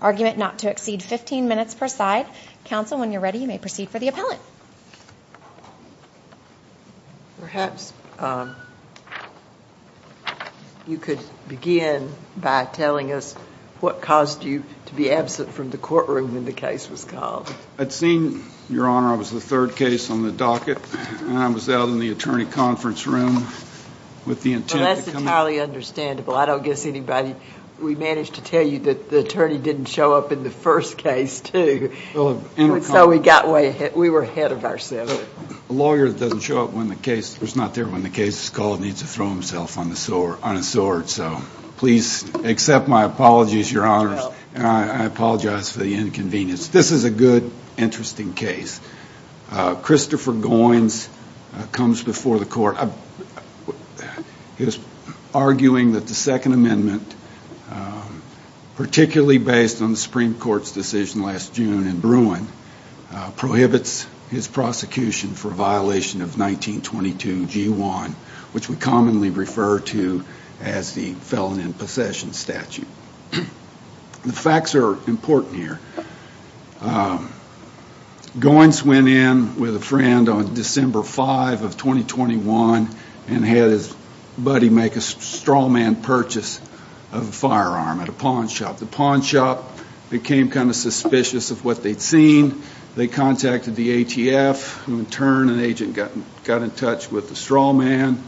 argument not to exceed 15 minutes per side. Council, when you're ready, you may proceed for the appellate. Perhaps you could begin by telling us what caused you to be absent from the courtroom when the case was called. I'd seen, Your Honor, I was the third case on the docket, and I was out in the attorney conference room with the intent to come back. Well, that's entirely understandable. I don't guess anybody, we managed to tell you that the attorney didn't show up in the first case, too. And so we got way ahead, we were ahead of ourselves. A lawyer doesn't show up when the case, is not there when the case is called, needs to throw himself on a sword, so please accept my apologies, Your Honors. I apologize for the inconvenience. This is a good, interesting case. Christopher Goins comes before the court, arguing that the Second Amendment, particularly based on the Supreme Court's decision last June in Bruin, prohibits his prosecution for violation of 1922 G1, which we commonly refer to as the felon in possession statute. The facts are important here. Goins went in with a friend on December 5 of 2021 and had his buddy make a straw man purchase of a firearm at a pawn shop. Became kind of suspicious of what they'd seen. They contacted the ATF, who in turn, an agent got in touch with the straw man,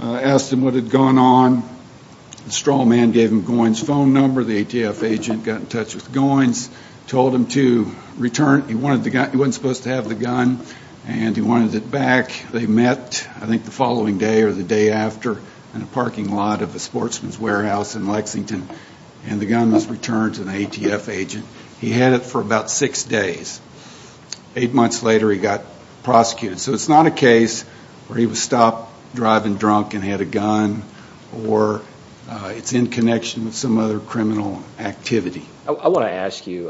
asked him what had gone on. The straw man gave him Goins' phone number, the ATF agent got in touch with Goins, told him to return. He wasn't supposed to have the gun, and he wanted it back. They met, I think the following day or the day after, in a parking lot of a sportsman's warehouse in Lexington, and the gun was returned to the ATF agent. He had it for about six days. Eight months later, he got prosecuted. So it's not a case where he was stopped driving drunk and had a gun, or it's in connection with some other criminal activity. I want to ask you,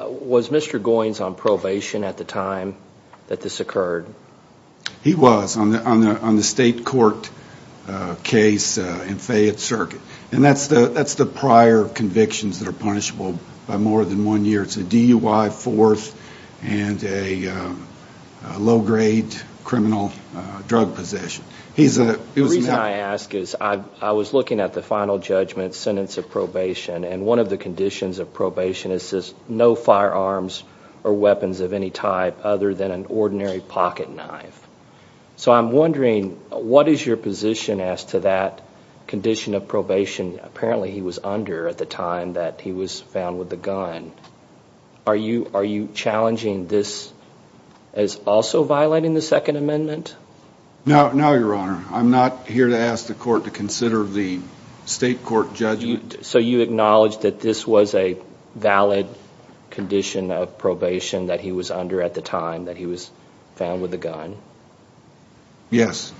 was Mr. Goins on probation at the time that this occurred? He was on the state court case in Fayette Circuit, and that's the prior convictions that are punishable by more than one year. It's a DUI, fourth, and a low-grade criminal drug possession. The reason I ask is I was looking at the final judgment sentence of probation, and one of the conditions of probation is no firearms or weapons of any type other than an ordinary pocket knife. So I'm wondering, what is your position as to that condition of probation? Apparently he was under at the time that he was found with the gun. Are you challenging this as also violating the Second Amendment? No, Your Honor. I'm not here to ask the court to consider the state court judgment. So you acknowledge that this was a valid condition of probation that he was under at the time that he was found with the gun? Yes,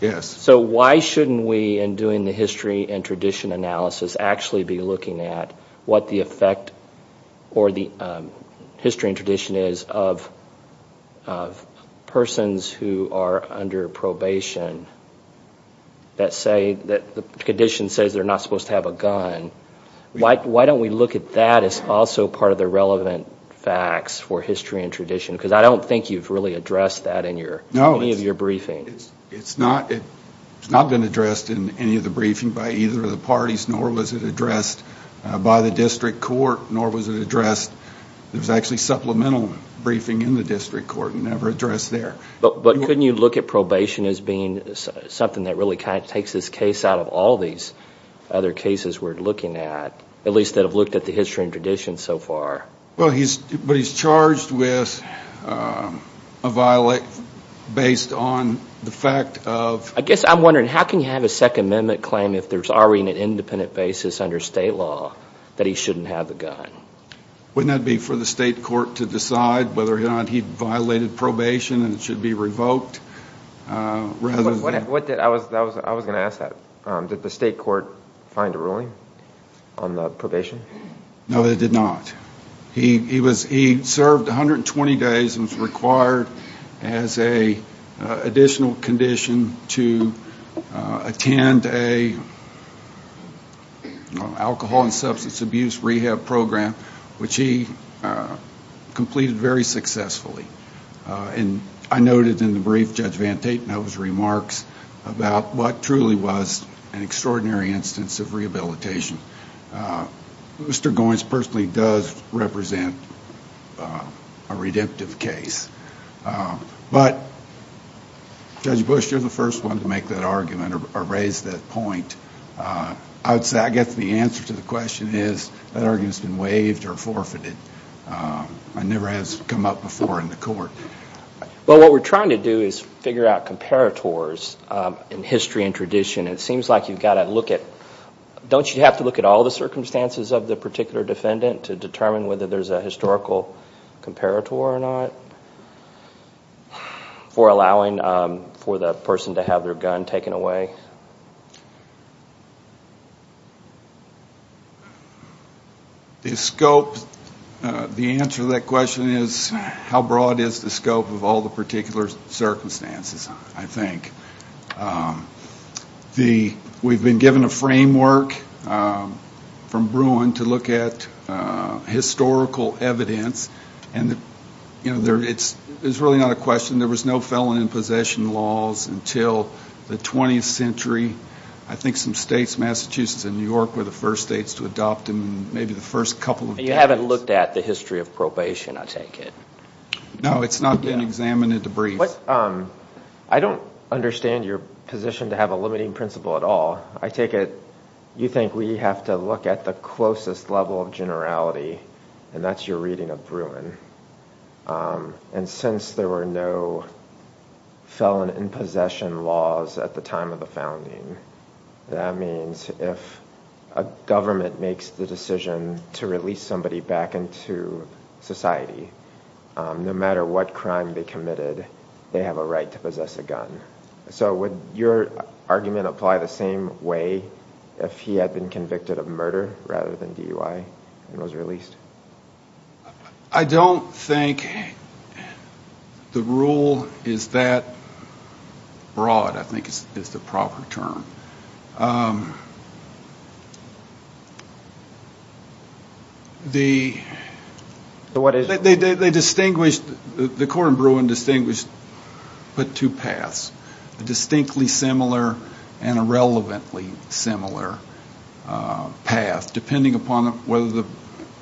yes. So why shouldn't we, in doing the history and tradition analysis, actually be looking at what the effect or the history and tradition is of persons who are under probation that say that the condition says they're not supposed to have a gun? Why don't we look at that as also part of the relevant facts for history and tradition? Because I don't think you've really addressed that in any of your briefings. It's not been addressed in any of the briefings by either of the parties, nor was it addressed by the district court, nor was it addressed – there was actually supplemental briefing in the district court and never addressed there. But couldn't you look at probation as being something that really takes this case out of all these other cases we're looking at, at least that have looked at the history and tradition so far? Well, but he's charged with a violation based on the fact of – I guess I'm wondering, how can you have a Second Amendment claim if there's already an independent basis under state law that he shouldn't have a gun? Wouldn't that be for the state court to decide whether or not he violated probation and it should be revoked rather than – I was going to ask that. Did the state court find a ruling on the probation? No, they did not. He served 120 days and was required as an additional condition to attend an alcohol and substance abuse rehab program, which he completed very successfully. And I noted in the brief Judge Van Tatenov's remarks about what truly was an extraordinary instance of rehabilitation. Mr. Goins personally does represent a redemptive case. But Judge Bush, you're the first one to make that argument or raise that point. I would say I guess the answer to the question is that argument's been waived or forfeited. It never has come up before in the court. Well, what we're trying to do is figure out comparators in history and tradition. It seems like you've got to look at – don't you have to look at all the circumstances of the particular defendant to determine whether there's a historical comparator or not for allowing for the person to have their gun taken away? Yes. The scope – the answer to that question is how broad is the scope of all the particular circumstances, I think. We've been given a framework from Bruin to look at historical evidence, and it's really not a question. There was no felon in possession laws until the 20th century. I think some states, Massachusetts and New York, were the first states to adopt them, maybe the first couple of decades. You haven't looked at the history of probation, I take it. No, it's not been examined in the brief. I don't understand your position to have a limiting principle at all. I take it you think we have to look at the closest level of generality, and that's your reading of Bruin. And since there were no felon in possession laws at the time of the founding, that means if a government makes the decision to release somebody back into society, no matter what crime they committed, they have a right to possess a gun. So would your argument apply the same way if he had been convicted of murder rather than DUI and was released? I don't think the rule is that broad, I think, is the proper term. The court in Bruin distinguished but two paths, a distinctly similar and a relevantly similar path, depending upon whether the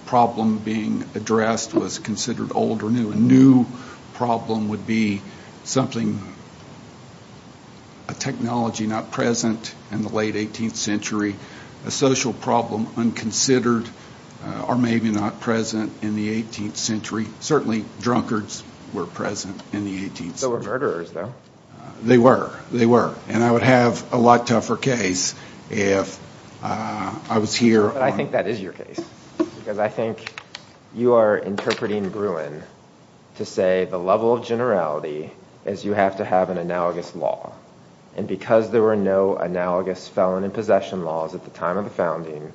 problem being addressed was considered old or new. A new problem would be something, a technology not present in the late 18th century, a social problem unconsidered or maybe not present in the 18th century. Certainly drunkards were present in the 18th century. They were murderers, though. They were, they were. And I would have a lot tougher case if I was here. But I think that is your case. Because I think you are interpreting Bruin to say the level of generality is you have to have an analogous law. And because there were no analogous felon in possession laws at the time of the founding,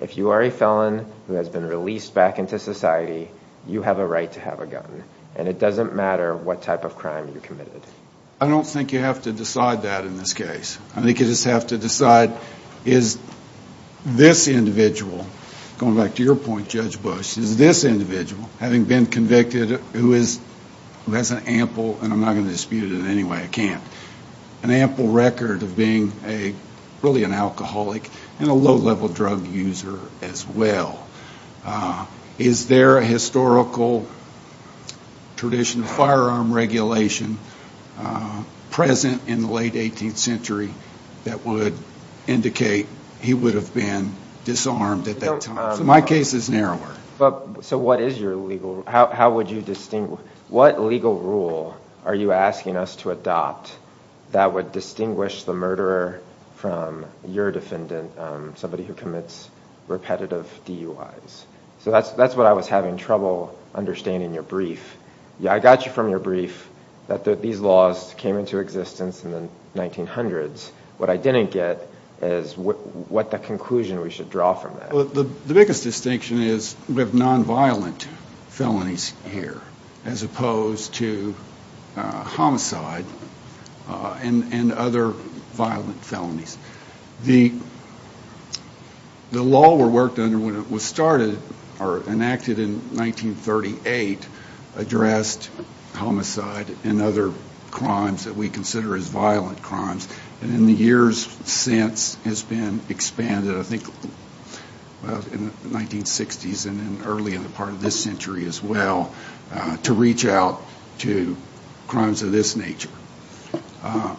if you are a felon who has been released back into society, you have a right to have a gun. And it doesn't matter what type of crime you committed. I don't think you have to decide that in this case. I think you just have to decide is this individual, going back to your point, Judge Bush, is this individual, having been convicted, who has an ample, and I'm not going to dispute it anyway, I can't, an ample record of being really an alcoholic and a low-level drug user as well. Is there a historical tradition of firearm regulation present in the late 18th century that would indicate he would have been disarmed at that time? So my case is narrower. So what is your legal, how would you distinguish, what legal rule are you asking us to adopt that would distinguish the murderer from your defendant, somebody who commits repetitive DUIs? So that's what I was having trouble understanding in your brief. I got you from your brief that these laws came into existence in the 1900s. What I didn't get is what the conclusion we should draw from that. The biggest distinction is we have nonviolent felonies here, as opposed to homicide and other violent felonies. The law we worked under when it was started, or enacted in 1938, addressed homicide and other crimes that we consider as violent crimes, and in the years since has been expanded, I think in the 1960s and early in the part of this century as well, to reach out to crimes of this nature.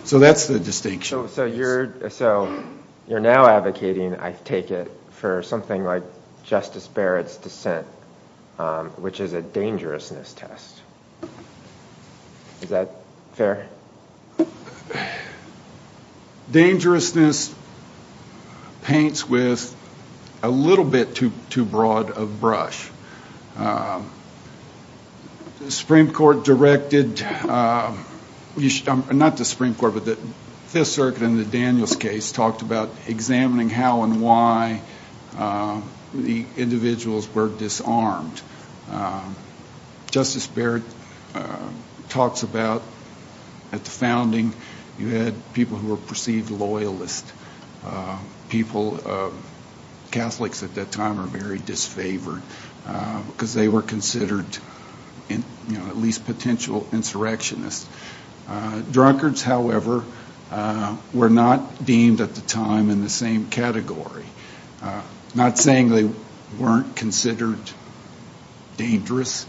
So that's the distinction. So you're now advocating, I take it, for something like Justice Barrett's dissent, which is a dangerousness test. Is that fair? Dangerousness paints with a little bit too broad a brush. The Supreme Court directed, not the Supreme Court, but the Fifth Circuit in the Daniels case talked about examining how and why the individuals were disarmed. Justice Barrett talks about at the founding you had people who were perceived loyalists, people, Catholics at that time, were very disfavored because they were considered at least potential insurrectionists. Drunkards, however, were not deemed at the time in the same category. Not saying they weren't considered dangerous,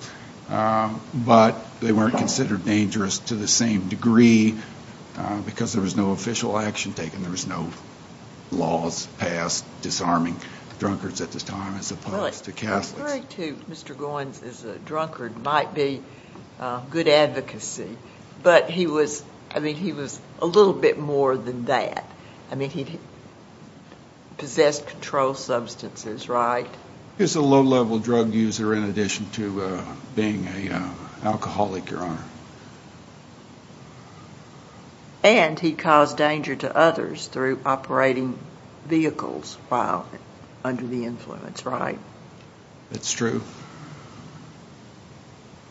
but they weren't considered dangerous to the same degree because there was no official action taken. There was no laws passed disarming drunkards at the time as opposed to Catholics. Well, a query to Mr. Goins as a drunkard might be good advocacy, but he was a little bit more than that. I mean, he possessed controlled substances, right? He was a low-level drug user in addition to being an alcoholic, Your Honor. And he caused danger to others through operating vehicles while under the influence, right? That's true.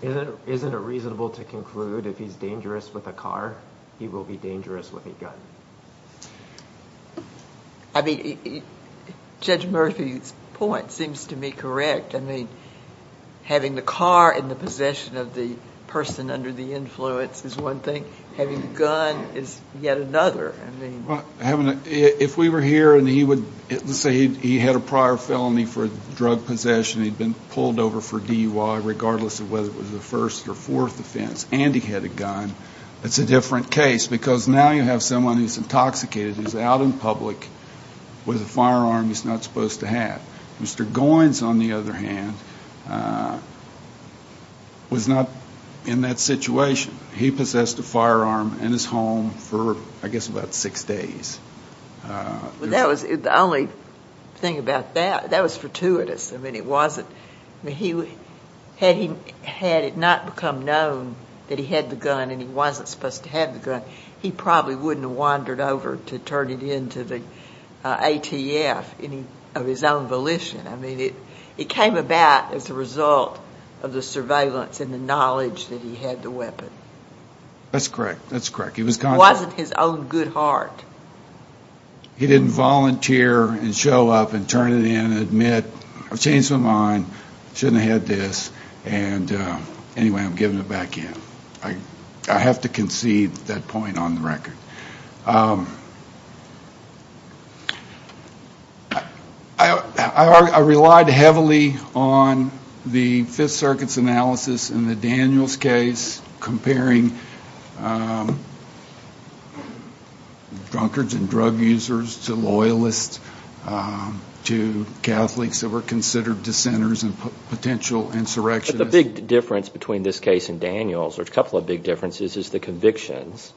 Isn't it reasonable to conclude if he's dangerous with a car, he will be dangerous with a gun? I mean, Judge Murphy's point seems to me correct. I mean, having the car in the possession of the person under the influence is one thing. Having the gun is yet another. If we were here and he would say he had a prior felony for drug possession, he'd been pulled over for DUI regardless of whether it was a first or fourth offense, and he had a gun, it's a different case because now you have someone who's intoxicated who's out in public with a firearm he's not supposed to have. Mr. Goins, on the other hand, was not in that situation. He possessed a firearm in his home for, I guess, about six days. The only thing about that, that was fortuitous. I mean, had it not become known that he had the gun and he wasn't supposed to have the gun, he probably wouldn't have wandered over to turn it into the ATF of his own volition. I mean, it came about as a result of the surveillance and the knowledge that he had the weapon. That's correct. That's correct. It wasn't his own good heart. He didn't volunteer and show up and turn it in and admit, I've changed my mind, shouldn't have had this, and anyway, I'm giving it back in. I have to concede that point on the record. I relied heavily on the Fifth Circuit's analysis in the Daniels case comparing drunkards and drug users to loyalists to Catholics that were considered dissenters and potential insurrectionists. But the big difference between this case and Daniels, or a couple of big differences, is the convictions.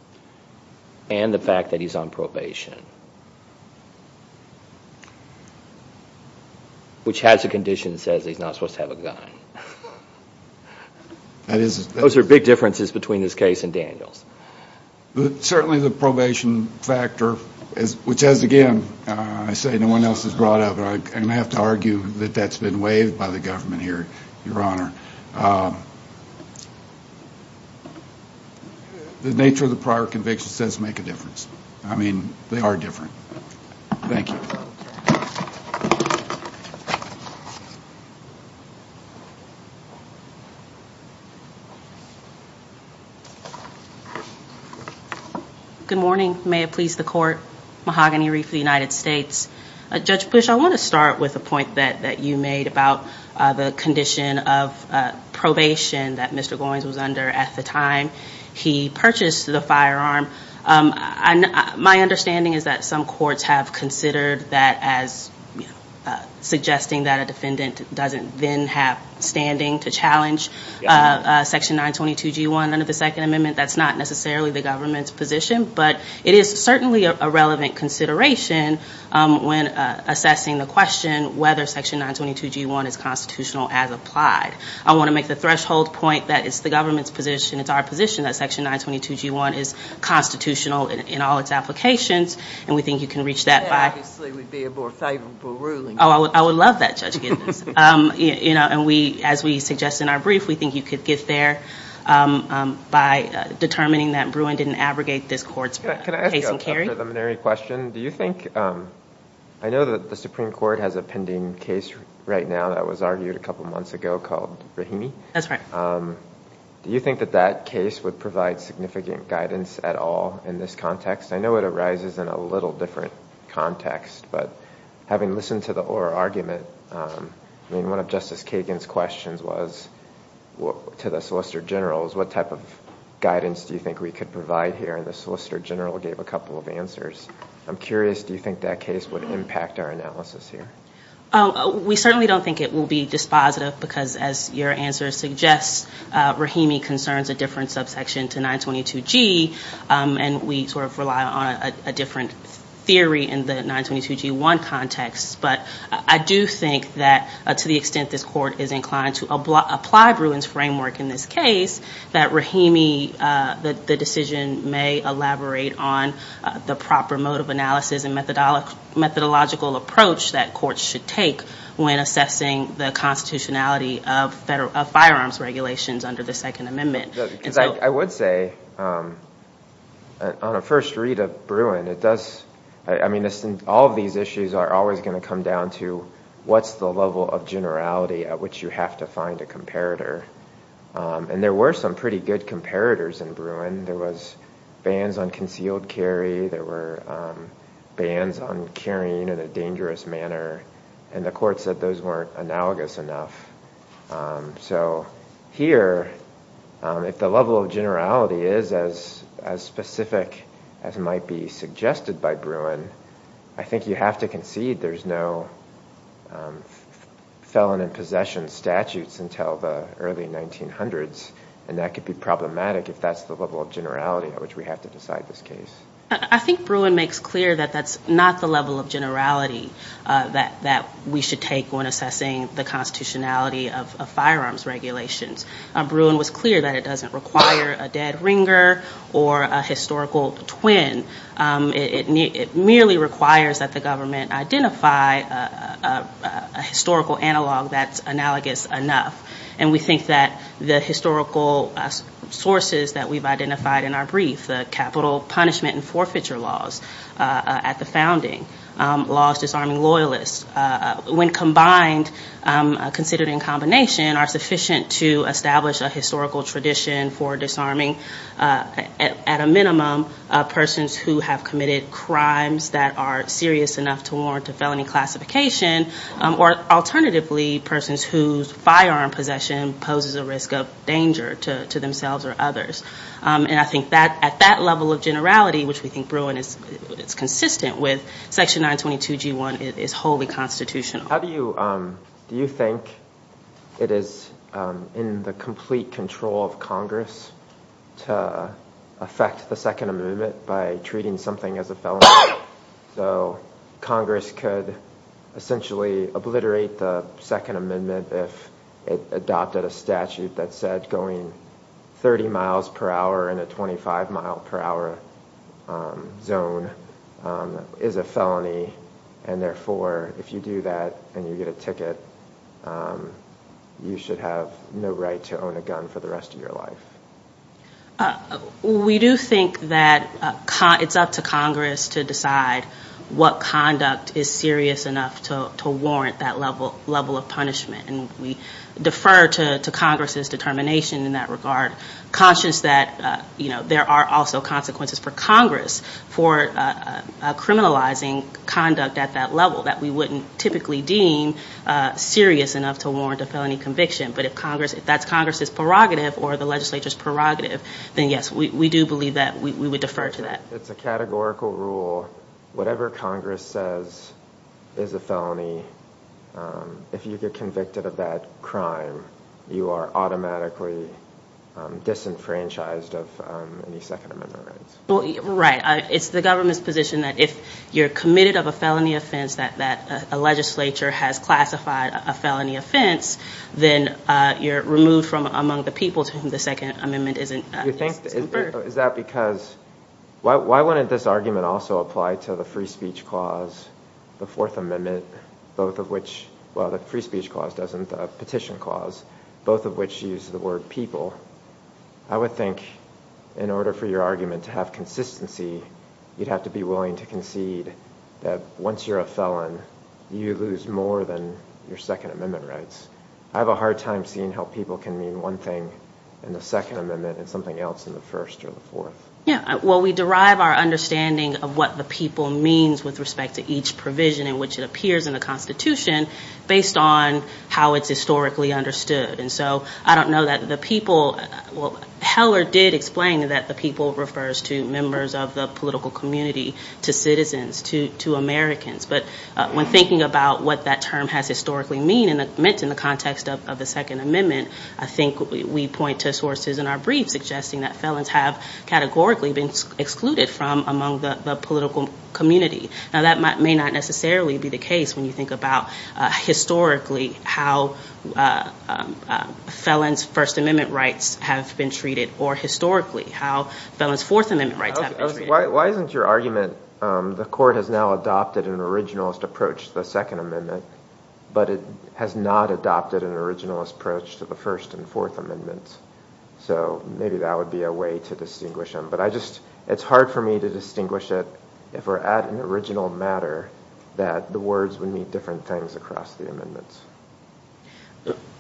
And the fact that he's on probation. Which has a condition that says he's not supposed to have a gun. Those are big differences between this case and Daniels. Certainly the probation factor, which has again, I say no one else has brought up, and I have to argue that that's been waived by the government here, Your Honor. The nature of the prior convictions doesn't make a difference. I mean, they are different. Thank you. Good morning. May it please the Court. Mahogany Reef of the United States. Judge Bush, I want to start with a point that you made about the condition of probation that Mr. Goins was under at the time he purchased the firearm. My understanding is that some courts have considered that as suggesting that a defendant doesn't then have standing to challenge Section 922G1 under the Second Amendment. That's not necessarily the government's position. But it is certainly a relevant consideration when assessing the question whether Section 922G1 is constitutional as applied. I want to make the threshold point that it's the government's position, it's our position, that Section 922G1 is constitutional in all its applications. And we think you can reach that by- That obviously would be a more favorable ruling. Oh, I would love that, Judge Giddens. And as we suggest in our brief, we think you could get there by determining that Bruin didn't abrogate this court's case and carry. Can I ask you a preliminary question? Do you think- I know that the Supreme Court has a pending case right now that was argued a couple months ago called Rahimi. That's right. Do you think that that case would provide significant guidance at all in this context? I know it arises in a little different context. But having listened to the oral argument, I mean, one of Justice Kagan's questions was to the Solicitor General, was what type of guidance do you think we could provide here? And the Solicitor General gave a couple of answers. I'm curious, do you think that case would impact our analysis here? We certainly don't think it will be dispositive because, as your answer suggests, Rahimi concerns a different subsection to 922G. And we sort of rely on a different theory in the 922G1 context. But I do think that to the extent this court is inclined to apply Bruin's framework in this case, that Rahimi, the decision may elaborate on the proper mode of analysis and methodological approach that courts should take when assessing the constitutionality of firearms regulations under the Second Amendment. I would say, on a first read of Bruin, it does, I mean, all of these issues are always going to come down to what's the level of generality at which you have to find a comparator? And there were some pretty good comparators in Bruin. There was bans on concealed carry. There were bans on carrying in a dangerous manner. And the court said those weren't analogous enough. So here, if the level of generality is as specific as might be suggested by Bruin, I think you have to concede there's no felon in possession statutes until the early 1900s. And that could be problematic if that's the level of generality at which we have to decide this case. I think Bruin makes clear that that's not the level of generality that we should take when assessing the constitutionality of firearms regulations. Bruin was clear that it doesn't require a dead ringer or a historical twin. It merely requires that the government identify a historical analog that's analogous enough. And we think that the historical sources that we've identified in our brief, the capital punishment and forfeiture laws at the founding, laws disarming loyalists, when combined, considered in combination, are sufficient to establish a historical tradition for disarming, at a minimum, persons who have committed crimes that are serious enough to warrant a felony classification, or alternatively, persons whose firearm possession poses a risk of danger to themselves or others. And I think that at that level of generality, which we think Bruin is consistent with, Section 922G1 is wholly constitutional. How do you think it is in the complete control of Congress to affect the Second Amendment by treating something as a felony? So Congress could essentially obliterate the Second Amendment if it adopted a statute that said going 30 miles per hour in a 25 mile per hour zone is a felony, and therefore, if you do that and you get a ticket, you should have no right to own a gun for the rest of your life. We do think that it's up to Congress to decide what conduct is serious enough to warrant that level of punishment. And we defer to Congress's determination in that regard, conscious that there are also consequences for Congress for criminalizing conduct at that level that we wouldn't typically deem serious enough to warrant a felony conviction. But if that's Congress's prerogative or the legislature's prerogative, then yes, we do believe that we would defer to that. It's a categorical rule. Whatever Congress says is a felony, if you get convicted of that crime, you are automatically disenfranchised of any Second Amendment rights. Right. It's the government's position that if you're committed of a felony offense that a legislature has classified a felony offense, then you're removed from among the people to whom the Second Amendment is conferred. Why wouldn't this argument also apply to the Free Speech Clause, the Fourth Amendment, both of which, well, the Free Speech Clause doesn't, the Petition Clause, both of which use the word people. I would think in order for your argument to have consistency, you'd have to be willing to concede that once you're a felon, you lose more than your Second Amendment rights. I have a hard time seeing how people can mean one thing in the Second Amendment and something else in the First or the Fourth. Yeah, well, we derive our understanding of what the people means with respect to each provision in which it appears in the Constitution based on how it's historically understood. And so I don't know that the people, well, Heller did explain that the people refers to members of the political community, to citizens, to Americans. But when thinking about what that term has historically meant in the context of the Second Amendment, I think we point to sources in our briefs suggesting that felons have categorically been excluded from among the political community. Now that may not necessarily be the case when you think about historically how felons' First Amendment rights have been treated or historically how felons' Fourth Amendment rights have been treated. Why isn't your argument the Court has now adopted an originalist approach to the Second Amendment, but it has not adopted an originalist approach to the First and Fourth Amendments? So maybe that would be a way to distinguish them. But I just, it's hard for me to distinguish it if we're at an original matter, that the words would mean different things across the amendments.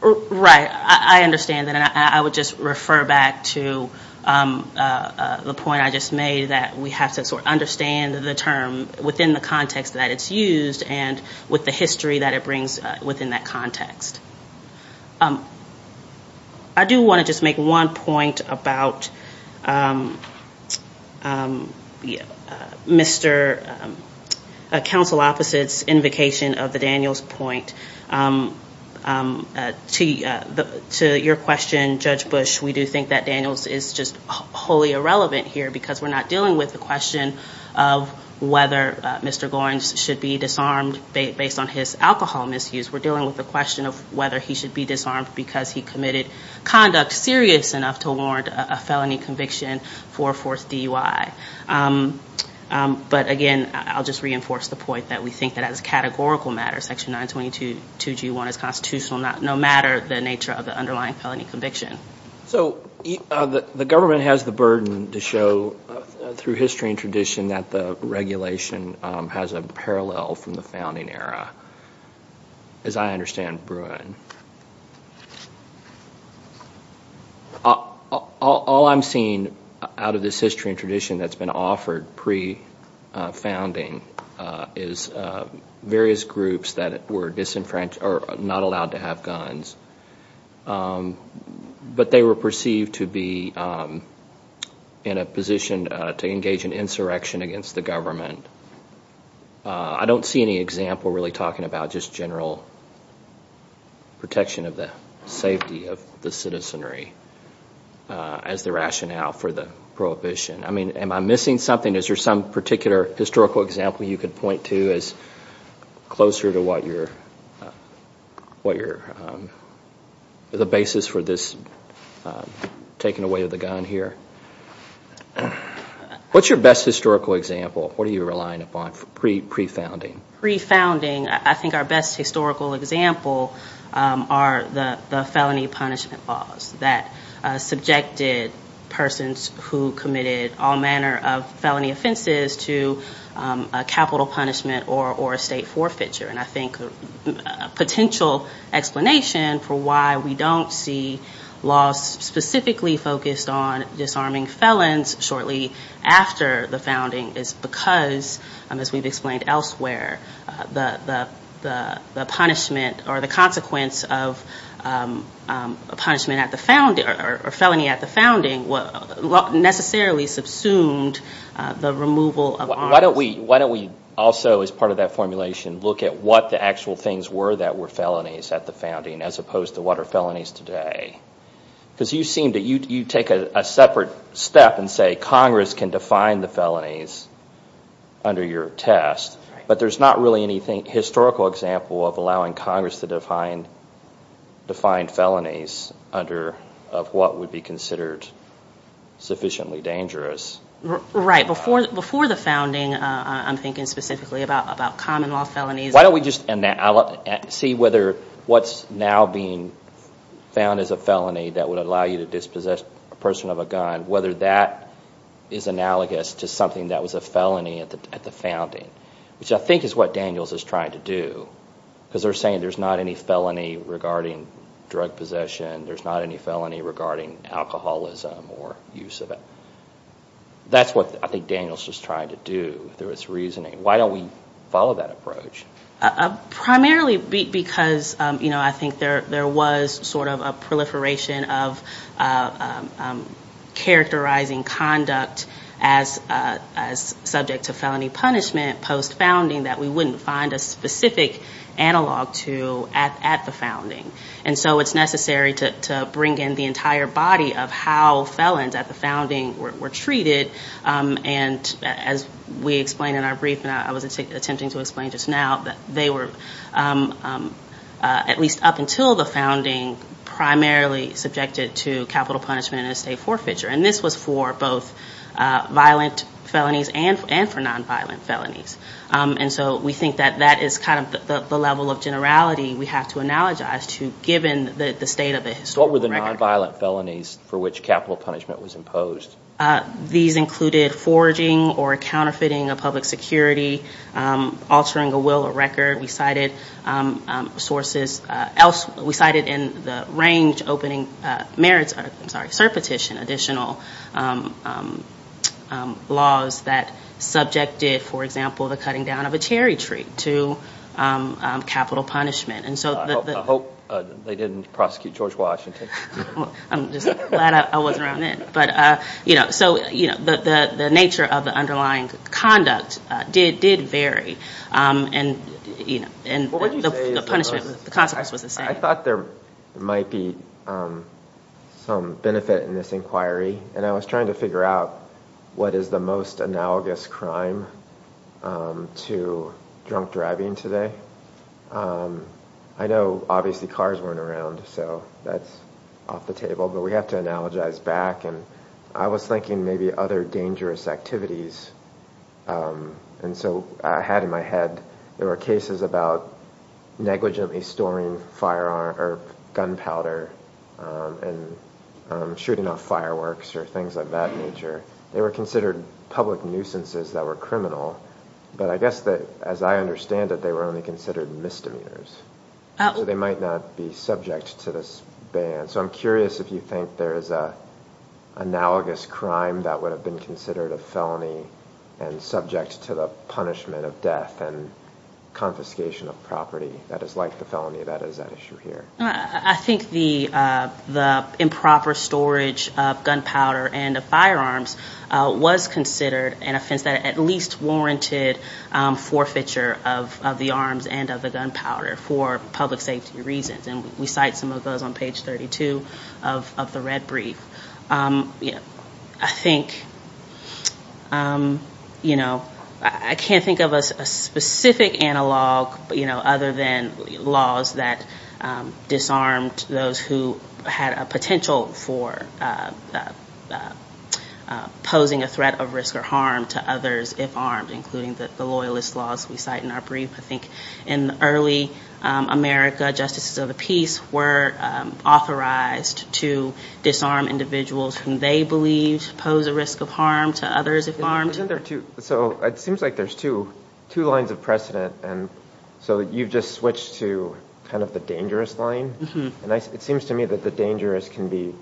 Right. I understand that. And I would just refer back to the point I just made, that we have to sort of understand the term within the context that it's used and with the history that it brings within that context. I do want to just make one point about Mr. Counsel Opposite's invocation of the Daniels point. To your question, Judge Bush, we do think that Daniels is just wholly irrelevant here because we're not dealing with the question of whether Mr. Gorens should be disarmed based on his alcohol misuse. We're dealing with the question of whether he should be disarmed because he committed conduct serious enough to warrant a felony conviction for a fourth DUI. But again, I'll just reinforce the point that we think that as a categorical matter, Section 922G1 is constitutional no matter the nature of the underlying felony conviction. So the government has the burden to show through history and tradition saying that the regulation has a parallel from the founding era, as I understand Bruin. All I'm seeing out of this history and tradition that's been offered pre-founding is various groups that were disenfranchised or not allowed to have guns. But they were perceived to be in a position to engage in insurrection against the government. I don't see any example really talking about just general protection of the safety of the citizenry as the rationale for the prohibition. I mean, am I missing something? I mean, is there some particular historical example you could point to as closer to what your... the basis for this taking away of the gun here? What's your best historical example? What are you relying upon pre-founding? Pre-founding, I think our best historical example are the felony punishment laws that subjected persons who committed all manner of felony offenses to a capital punishment or a state forfeiture. And I think a potential explanation for why we don't see laws specifically focused on disarming felons shortly after the founding is because, as we've explained elsewhere, the punishment or the consequence of a punishment at the founding or felony at the founding necessarily subsumed the removal of arms. Why don't we also, as part of that formulation, look at what the actual things were that were felonies at the founding as opposed to what are felonies today? Because you take a separate step and say Congress can define the felonies under your test, but there's not really any historical example of allowing Congress to define felonies under what would be considered sufficiently dangerous. Right. Before the founding, I'm thinking specifically about common law felonies. Why don't we just see whether what's now being found as a felony that would allow you to dispossess a person of a gun, whether that is analogous to something that was a felony at the founding, which I think is what Daniels is trying to do, because they're saying there's not any felony regarding drug possession, there's not any felony regarding alcoholism or use of it. That's what I think Daniels was trying to do through his reasoning. Why don't we follow that approach? Primarily because I think there was sort of a proliferation of characterizing conduct as subject to felony punishment post-founding that we wouldn't find a specific analog to at the founding. And so it's necessary to bring in the entire body of how felons at the founding were treated. And as we explained in our brief, and I was attempting to explain just now, they were, at least up until the founding, primarily subjected to capital punishment and estate forfeiture. And this was for both violent felonies and for nonviolent felonies. And so we think that that is kind of the level of generality we have to analogize to, given the state of the historical record. What were the nonviolent felonies for which capital punishment was imposed? These included forging or counterfeiting a public security, altering a will or record. We cited in the range opening merits, I'm sorry, surpetition, additional laws that subjected, for example, the cutting down of a cherry tree to capital punishment. I hope they didn't prosecute George Washington. I'm just glad I wasn't around then. So the nature of the underlying conduct did vary. And the punishment, the consequence was the same. I thought there might be some benefit in this inquiry, and I was trying to figure out what is the most analogous crime to drunk driving today. I know, obviously, cars weren't around, so that's off the table, but we have to analogize back. And I was thinking maybe other dangerous activities. And so I had in my head there were cases about negligently storing firearm or gunpowder and shooting off fireworks or things of that nature. They were considered public nuisances that were criminal. But I guess that, as I understand it, they were only considered misdemeanors. So they might not be subject to this ban. So I'm curious if you think there is an analogous crime that would have been considered a felony and subject to the punishment of death and confiscation of property that is like the felony that is at issue here. I think the improper storage of gunpowder and of firearms was considered an offense that at least warranted forfeiture of the arms and of the gunpowder. And we cite some of those on page 32 of the red brief. I think, you know, I can't think of a specific analog other than laws that disarmed those who had a potential for posing a threat of risk or harm to others if armed, including the loyalist laws we cite in our brief. I think in early America, justices of the peace were authorized to disarm individuals whom they believed posed a risk of harm to others if armed. Isn't there two, so it seems like there's two lines of precedent. And so you've just switched to kind of the dangerous line. And it seems to me that the dangerous can be,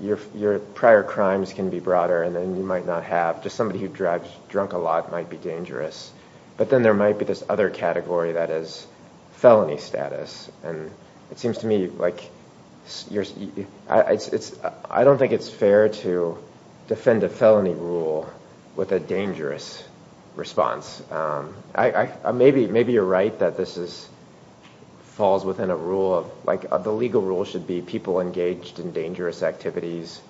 your prior crimes can be broader and then you might not have, just somebody who drives drunk a lot might be dangerous. But then there might be this other category that is felony status. And it seems to me like, I don't think it's fair to defend a felony rule with a dangerous response. Maybe you're right that this falls within a rule of, like the legal rule should be people engaged in dangerous activities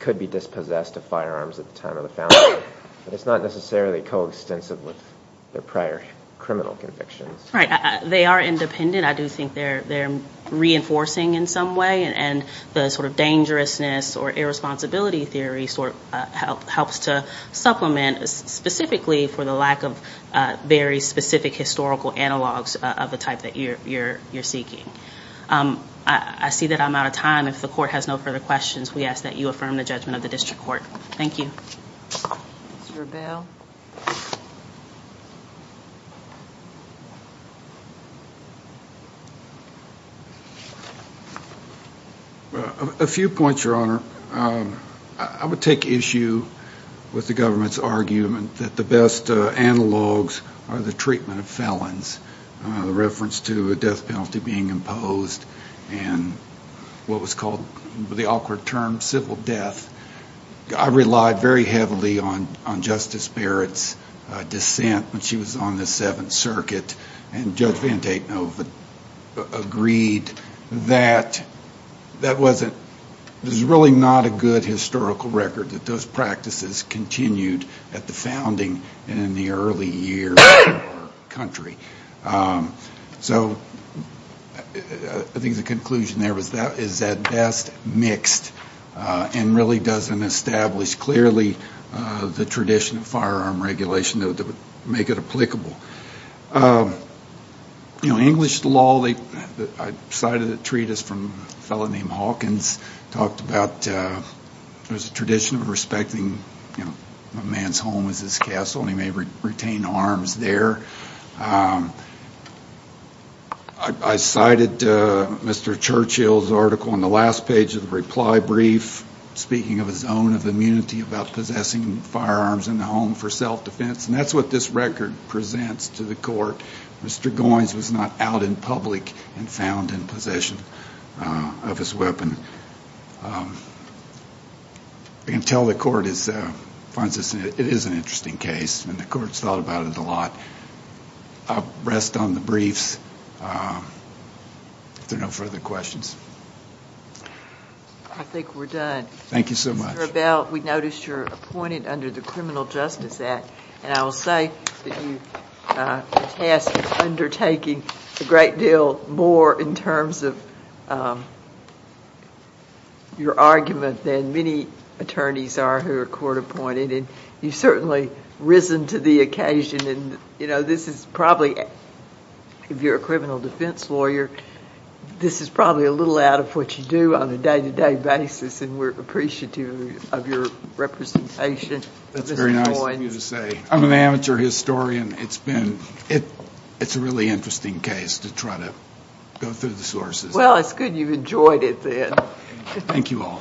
could be dispossessed of firearms at the time of the felony. But it's not necessarily coextensive with their prior criminal convictions. Right. They are independent. I do think they're reinforcing in some way. And the sort of dangerousness or irresponsibility theory sort of helps to supplement specifically for the lack of very specific historical analogs of the type that you're seeking. I see that I'm out of time. If the court has no further questions, we ask that you affirm the judgment of the district court. Thank you. A few points, Your Honor. I would take issue with the government's argument that the best analogs are the treatment of felons. The reference to a death penalty being imposed and what was called the awkward term civil death. I relied very heavily on Justice Barrett's dissent when she was on the Seventh Circuit. And Judge Vandeknoe agreed that that wasn't, it was really not a good historical record that those practices continued at the founding and in the early years of our country. So I think the conclusion there is that best mixed and really doesn't establish the best analogs. It establishes clearly the tradition of firearm regulation that would make it applicable. You know, English law, I cited a treatise from a fellow named Hawkins, talked about there's a tradition of respecting a man's home as his castle and he may retain arms there. I cited Mr. Churchill's article in the last page of the reply brief, speaking of his own immunity. About possessing firearms in the home for self-defense and that's what this record presents to the court. Mr. Goins was not out in public and found in possession of his weapon. I can tell the court finds this, it is an interesting case and the court's thought about it a lot. I'll rest on the briefs if there are no further questions. I think we're done. Thank you so much. Mr. Bell, we noticed you're appointed under the Criminal Justice Act and I will say the task is undertaking a great deal more in terms of your argument than many attorneys are who are court appointed. You've certainly risen to the occasion. This is probably, if you're a criminal defense lawyer, this is probably a little out of what you do on a day-to-day basis and we're appreciative of your representation. That's very nice of you to say. I'm an amateur historian. It's a really interesting case to try to go through the sources. Well, it's good you've enjoyed it then. Thank you all.